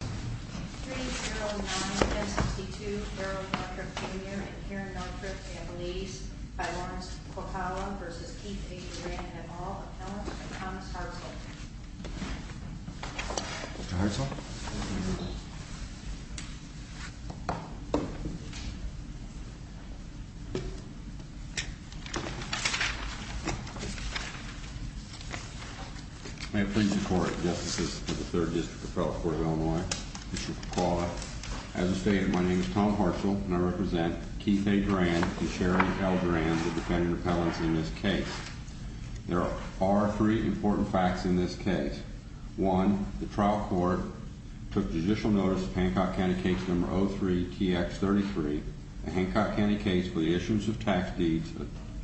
3-0-1-10-62 Harold Maltrip Jr. and Karen Maltrip families by Lawrence Corcala v. Keith A. Durand and all appellants by Thomas Hartzell Mr. Hartzell May it please the court, justices of the 3rd District Appellate Court of Illinois, Mr. Corcala As stated, my name is Tom Hartzell and I represent Keith A. Durand and Sharon L. Durand, the defendant appellants in this case There are three important facts in this case 1. The trial court took judicial notice of Hancock County Case No. 03-TX33, a Hancock County case for the issuance of tax deeds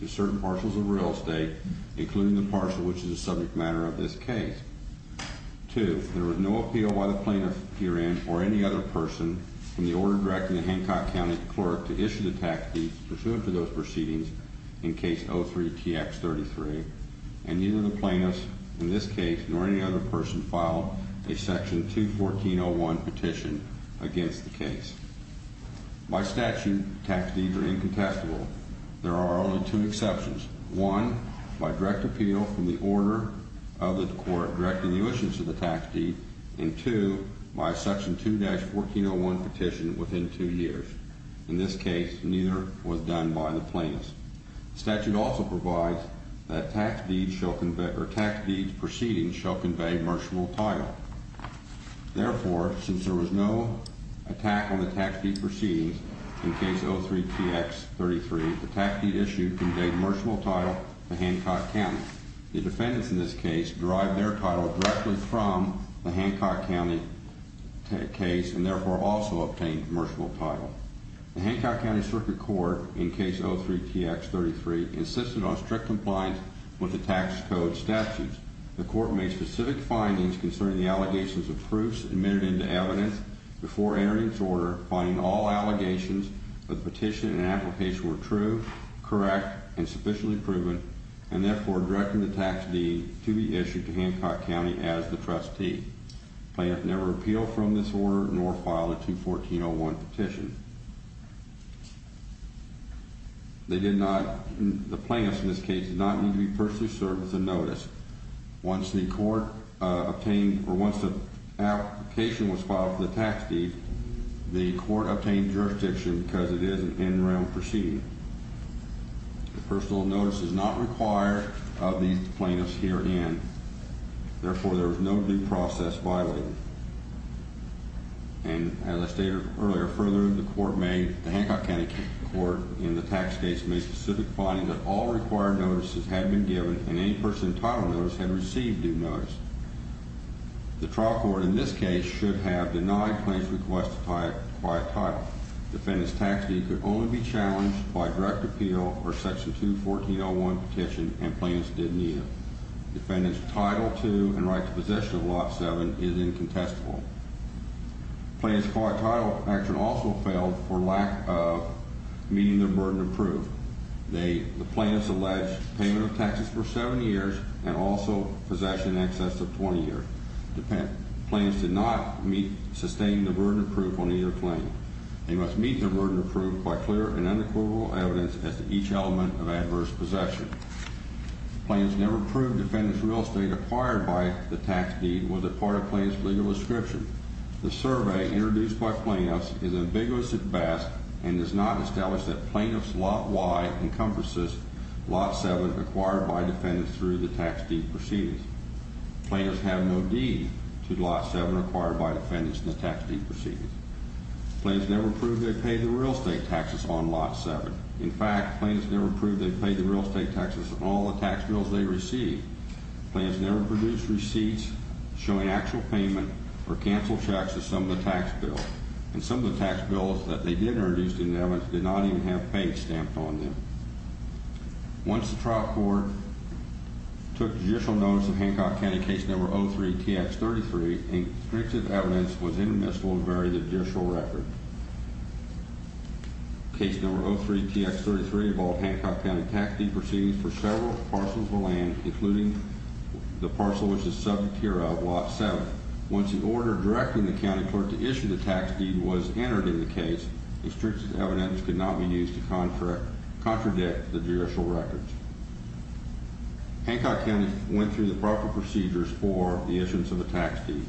to certain parcels of real estate, including the parcel which is the subject matter of this case 2. There was no appeal by the plaintiff, Durand, or any other person from the order directing the Hancock County clerk to issue the tax deeds pursuant to those proceedings in Case 03-TX33 and neither the plaintiff, in this case, nor any other person filed a Section 214.01 petition against the case By statute, tax deeds are incontestable There are only two exceptions 1. By direct appeal from the order of the court directing the issuance of the tax deed and 2. By Section 2-1401 petition within two years In this case, neither was done by the plaintiff Statute also provides that tax deeds proceedings shall convey merciful title Therefore, since there was no attack on the tax deed proceedings in Case 03-TX33, the tax deed issued conveyed merciful title to Hancock County The defendants in this case derived their title directly from the Hancock County case and therefore also obtained merciful title The Hancock County Circuit Court in Case 03-TX33 insisted on strict compliance with the tax code statutes The court made specific findings concerning the allegations of proofs admitted into evidence before entering its order finding all allegations of the petition and application were true, correct, and sufficiently proven and therefore directing the tax deed to be issued to Hancock County as the trustee The plaintiff never appealed from this order nor filed a 2-1401 petition The plaintiff in this case did not need to be personally served with a notice Once the application was filed for the tax deed, the court obtained jurisdiction because it is an in-room proceeding The personal notice is not required of these plaintiffs herein. Therefore, there was no due process violated As I stated earlier, further, the Hancock County Court in the tax case made specific findings that all required notices had been given and any person entitled to those had received due notice The trial court in this case should have denied plaintiff's request to acquire a title Defendant's tax deed could only be challenged by direct appeal or section 2-1401 petition and plaintiff's did neither Defendant's title to and right to possession of Lot 7 is incontestable Plaintiff's court title action also failed for lack of meeting their burden of proof The plaintiff's alleged payment of taxes for 7 years and also possession in excess of 20 years Plaintiff's did not sustain the burden of proof on either claim They must meet their burden of proof by clear and unequivocal evidence as to each element of adverse possession Plaintiff's never proved defendant's real estate acquired by the tax deed was a part of plaintiff's legal description The survey introduced by plaintiffs is ambiguous at best and does not establish that plaintiff's Lot Y encompasses Lot 7 acquired by defendant through the tax deed proceedings Plaintiff's have no deed to Lot 7 acquired by defendant in the tax deed proceedings Plaintiff's never proved they paid the real estate taxes on Lot 7 In fact, plaintiff's never proved they paid the real estate taxes on all the tax bills they received Plaintiff's never produced receipts showing actual payment or cancel checks of some of the tax bills And some of the tax bills that they did introduce in evidence did not even have page stamped on them Once the trial court took judicial notice of Hancock County Case No. 03-TX-33 Restrictive evidence was intermissible to vary the judicial record Case No. 03-TX-33 involved Hancock County tax deed proceedings for several parcels of land including the parcel which is subject here of Lot 7 Once the order directing the county clerk to issue the tax deed was entered in the case Restrictive evidence could not be used to contradict the judicial records Hancock County went through the proper procedures for the issuance of the tax deed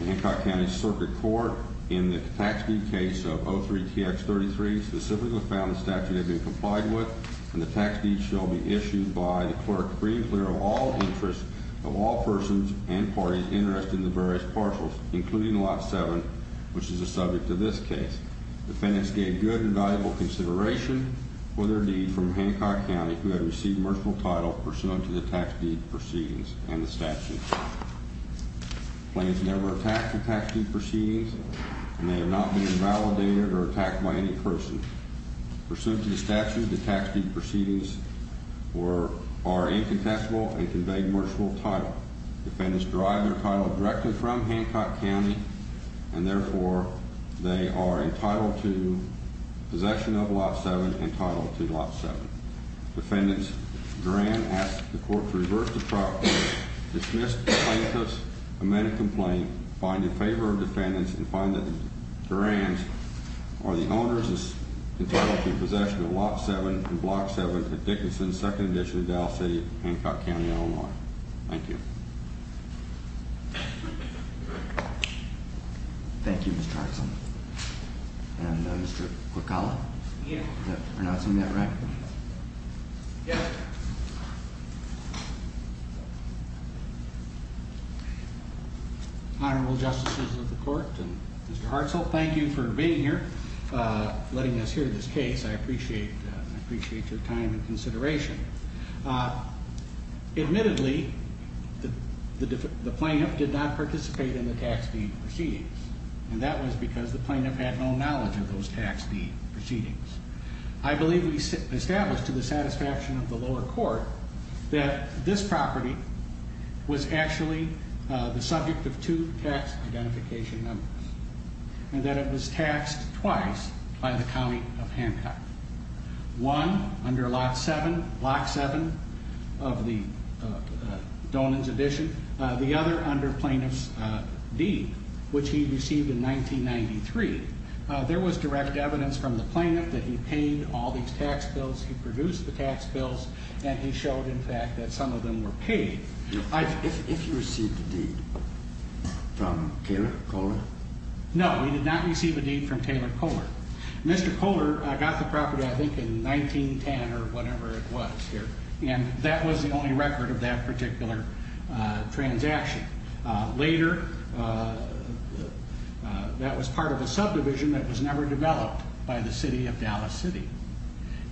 In Hancock County Circuit Court in the tax deed case of 03-TX-33 specifically found the statute had been complied with And the tax deed shall be issued by the clerk free and clear of all interests of all persons and parties interested in the various parcels Including Lot 7 which is the subject of this case Defendants gave good and valuable consideration for their deed from Hancock County who have received merciful title pursuant to the tax deed proceedings and the statute Plaintiffs never attacked the tax deed proceedings and they have not been invalidated or attacked by any person Pursuant to the statute the tax deed proceedings are incontestable and convey merciful title Defendants derive their title directly from Hancock County and therefore they are entitled to possession of Lot 7 and entitled to Lot 7 Defendants Durand asks the court to reverse the process, dismiss the plaintiffs, amend the complaint, find in favor of defendants and find that Durands are the owners entitled to possession of Lot 7 and Block 7 at Dickinson, 2nd Edition, Dallas City, Hancock County, Illinois Thank you Thank you Mr. Hartzell And Mr. Quokkala Yes Is that pronouncing that right? Yes Honorable Justices of the Court and Mr. Hartzell, thank you for being here, letting us hear this case, I appreciate your time and consideration Admittedly the plaintiff did not participate in the tax deed proceedings and that was because the plaintiff had no knowledge of those tax deed proceedings I believe we established to the satisfaction of the lower court that this property was actually the subject of two tax identification numbers And that it was taxed twice by the County of Hancock, one under Lot 7, Block 7 of the Donan's Edition, the other under plaintiff's deed which he received in 1993 There was direct evidence from the plaintiff that he paid all these tax bills, he produced the tax bills and he showed in fact that some of them were paid If he received a deed from Taylor Kohler? No, he did not receive a deed from Taylor Kohler Mr. Kohler got the property I think in 1910 or whatever it was here and that was the only record of that particular transaction Later that was part of a subdivision that was never developed by the City of Dallas City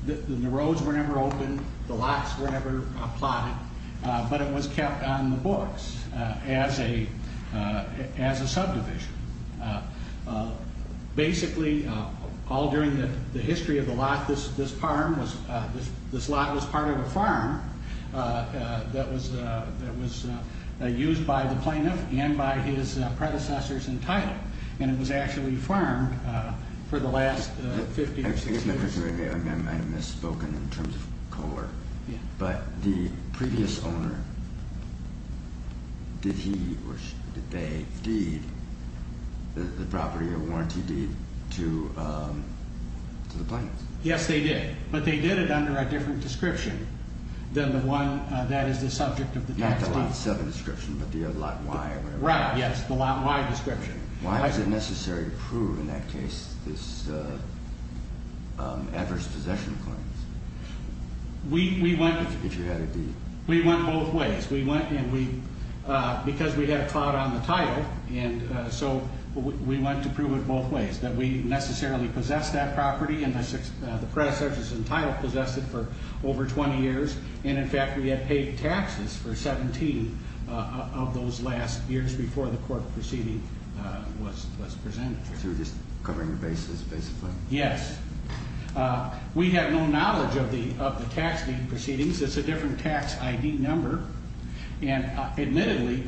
The roads were never opened, the lots were never plotted, but it was kept on the books as a subdivision Basically all during the history of the lot, this lot was part of a farm that was used by the plaintiff and by his predecessors in title And it was actually farmed for the last 50 or 60 years I might have misspoken in terms of Kohler, but the previous owner, did he or she, did they deed the property, a warranty deed to the plaintiff? Yes they did, but they did it under a different description than the one that is the subject of the tax deed Not the Lot 7 description, but the Lot Y or whatever Why was it necessary to prove in that case this adverse possession claims? We went both ways, because we had a clout on the title and so we went to prove it both ways That we necessarily possessed that property and the predecessors in title possessed it for over 20 years And in fact we had paid taxes for 17 of those last years before the court proceeding was presented So you were just covering your bases basically Yes, we have no knowledge of the tax deed proceedings, it's a different tax ID number And admittedly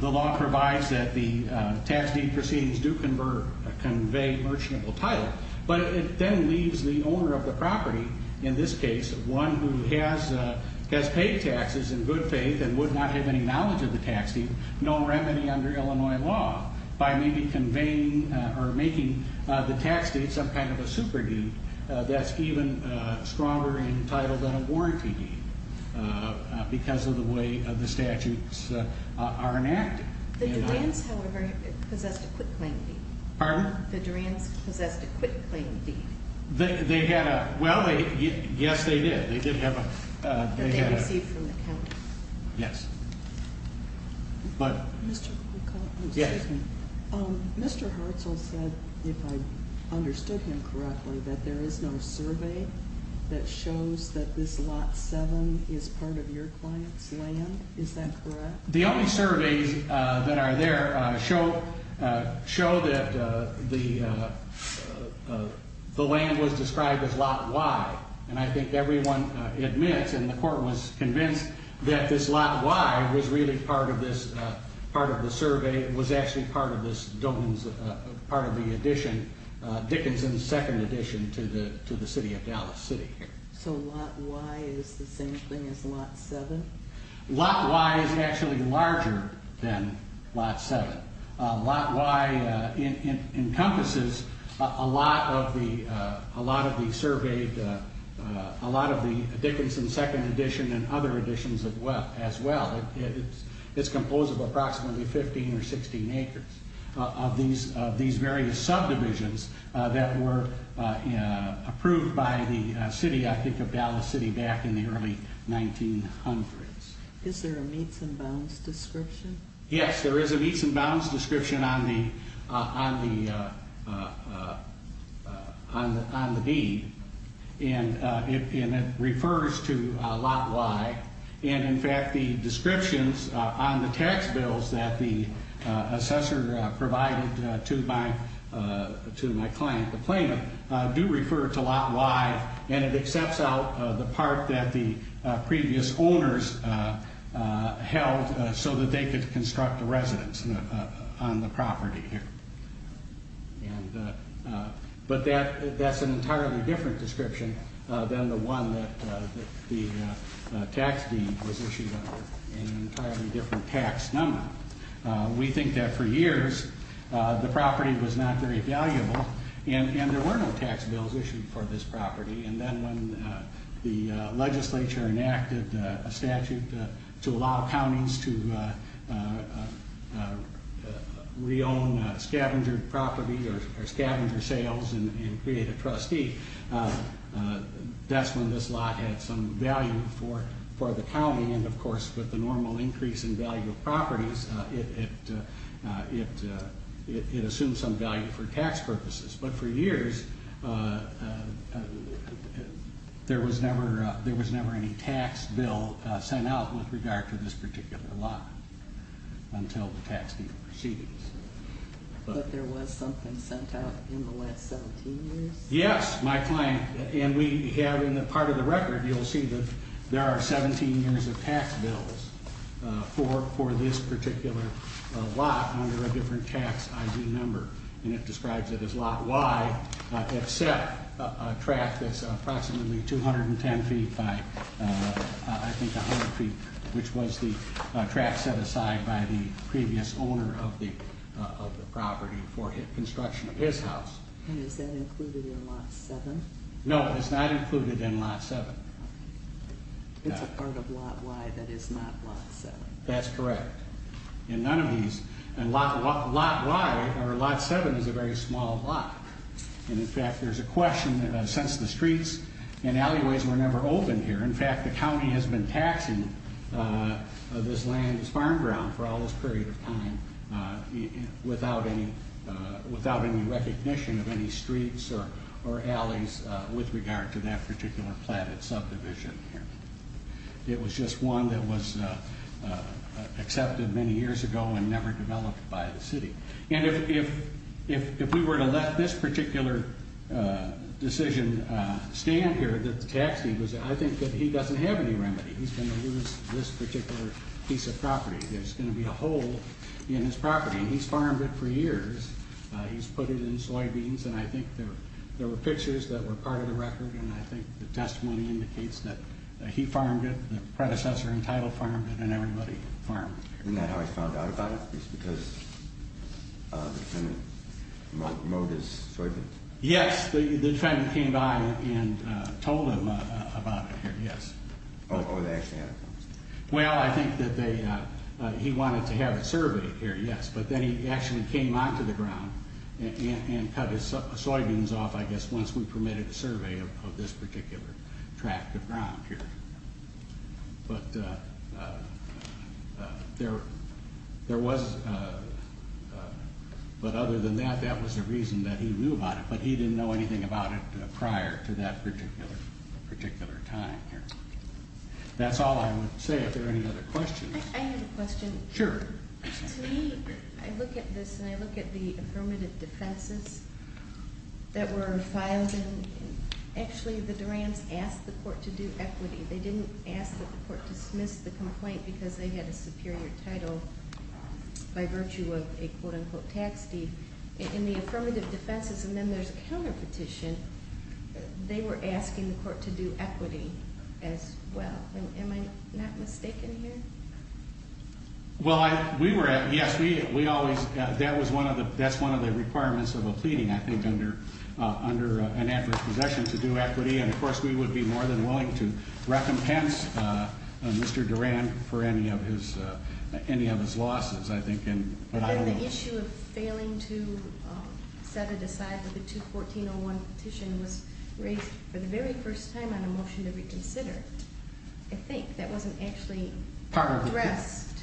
the law provides that the tax deed proceedings do convey merchantable title But it then leaves the owner of the property, in this case one who has paid taxes in good faith And would not have any knowledge of the tax deed, no remedy under Illinois law By maybe making the tax deed some kind of a super deed that's even stronger in title than a warranty deed Because of the way the statutes are enacted The Duran's however possessed a quitclaim deed Pardon? The Duran's possessed a quitclaim deed They had a, well yes they did, they did have a That they received from the county Yes Mr. Hartzell said, if I understood him correctly, that there is no survey that shows that this Lot 7 is part of your client's land, is that correct? The only surveys that are there show that the land was described as Lot Y And I think everyone admits and the court was convinced that this Lot Y was really part of this, part of the survey Was actually part of this, part of the addition, Dickinson's second addition to the city of Dallas City So Lot Y is the same thing as Lot 7? Lot Y is actually larger than Lot 7 Lot Y encompasses a lot of the surveyed, a lot of the Dickinson's second addition and other additions as well It's composed of approximately 15 or 16 acres Of these various subdivisions that were approved by the city, I think of Dallas City back in the early 1900s Is there a meets and bounds description? Yes, there is a meets and bounds description on the deed And it refers to Lot Y And in fact the descriptions on the tax bills that the assessor provided to my client, the claimant, do refer to Lot Y And it accepts out the part that the previous owners held so that they could construct a residence on the property But that's an entirely different description than the one that the tax deed was issued under An entirely different tax number We think that for years the property was not very valuable and there were no tax bills issued for this property And then when the legislature enacted a statute to allow counties to re-own scavenger property or scavenger sales and create a trustee That's when this lot had some value for the county And of course with the normal increase in value of properties, it assumed some value for tax purposes But for years, there was never any tax bill sent out with regard to this particular lot Until the tax deed proceedings But there was something sent out in the last 17 years? Yes, my client, and we have in the part of the record, you'll see that there are 17 years of tax bills For this particular lot under a different tax ID number And it describes it as Lot Y except a tract that's approximately 210 feet by I think 100 feet Which was the tract set aside by the previous owner of the property for construction of his house And is that included in Lot 7? No, it's not included in Lot 7 It's a part of Lot Y that is not Lot 7 That's correct And none of these, and Lot Y or Lot 7 is a very small lot And in fact there's a question, since the streets and alleyways were never opened here In fact the county has been taxing this land as farm ground for all this period of time Without any recognition of any streets or alleys with regard to that particular platted subdivision It was just one that was accepted many years ago and never developed by the city And if we were to let this particular decision stand here That the tax deed was, I think that he doesn't have any remedy He's going to lose this particular piece of property There's going to be a hole in his property He's farmed it for years He's put it in soybeans And I think there were pictures that were part of the record And I think the testimony indicates that he farmed it The predecessor entitled farmed it and everybody farmed it Isn't that how he found out about it? Because the defendant mowed his soybeans? Yes, the defendant came by and told him about it, yes Or they actually had a conversation Well, I think that he wanted to have it surveyed here, yes But then he actually came onto the ground And cut his soybeans off, I guess, once we permitted the survey of this particular tract of ground here But other than that, that was the reason that he knew about it But he didn't know anything about it prior to that particular time here That's all I would say, if there are any other questions I have a question Sure To me, I look at this and I look at the affirmative defenses that were filed Actually, the Durhams asked the court to do equity They didn't ask the court to dismiss the complaint because they had a superior title By virtue of a quote-unquote tax deed In the affirmative defenses, and then there's a counterpetition They were asking the court to do equity as well Am I not mistaken here? Well, yes, that's one of the requirements of a pleading, I think Under an adverse possession to do equity And, of course, we would be more than willing to recompense Mr. Durham for any of his losses, I think But then the issue of failing to set it aside with the 2-1401 petition Was raised for the very first time on a motion to reconsider I think, that wasn't actually addressed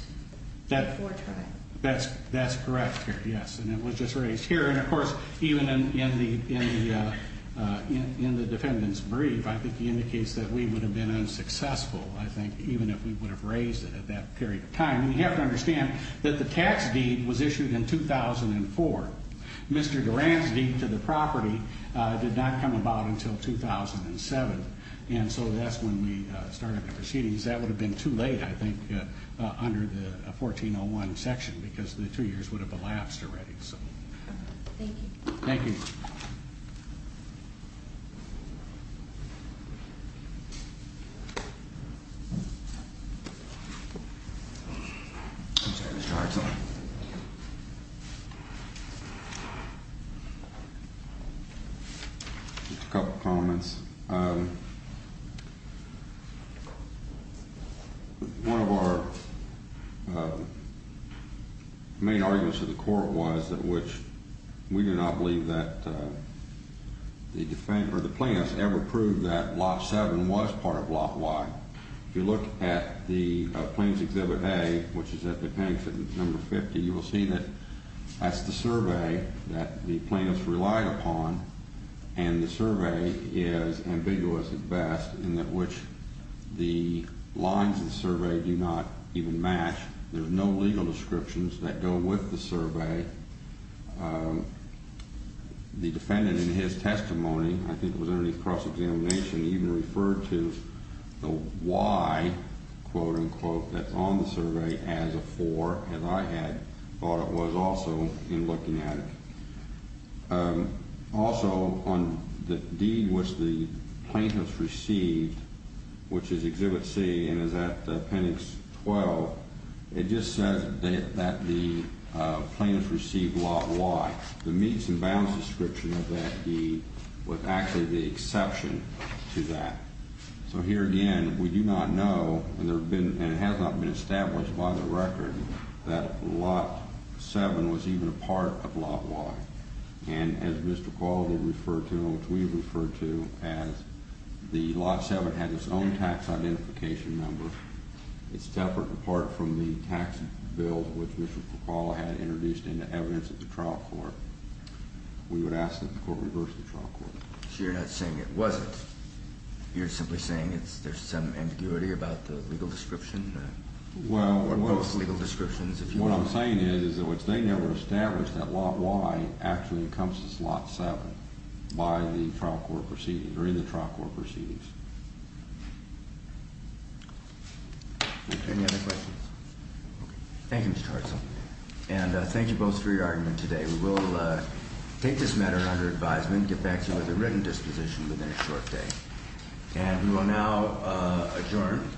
before trial That's correct, yes, and it was just raised here And, of course, even in the defendant's brief I think he indicates that we would have been unsuccessful I think, even if we would have raised it at that period of time We have to understand that the tax deed was issued in 2004 Mr. Durham's deed to the property did not come about until 2007 And so that's when we started the proceedings That would have been too late, I think, under the 1401 section Because the two years would have elapsed already Thank you I'm sorry, Mr. Hartzell Just a couple comments One of our main arguments to the court was We do not believe that the plaintiffs ever proved that Lot 7 was part of Lot Y If you look at the Plaintiff's Exhibit A, which is at the plaintiff's number 50 You will see that that's the survey that the plaintiffs relied upon And the survey is ambiguous at best In that which the lines of the survey do not even match There are no legal descriptions that go with the survey The defendant in his testimony, I think it was under his cross-examination Even referred to the Y, quote-unquote, that's on the survey as a 4 As I had thought it was also in looking at it Also, on the deed which the plaintiffs received Which is Exhibit C and is at Appendix 12 It just says that the plaintiffs received Lot Y The meets and bounds description of that deed was actually the exception to that So here again, we do not know, and it has not been established by the record That Lot 7 was even a part of Lot Y And as Mr. Qualley referred to, and which we referred to As the Lot 7 had its own tax identification number It's separate in part from the tax bill which Mr. Qualley had introduced into evidence at the trial court We would ask that the court reverse the trial court So you're not saying it wasn't You're simply saying there's some ambiguity about the legal description Well, what I'm saying is They never established that Lot Y actually encompasses Lot 7 By the trial court proceedings, or in the trial court proceedings Any other questions? Thank you, Mr. Tarso And thank you both for your argument today We will take this matter under advisement Get back to you with a written disposition within a short day And we will now adjourn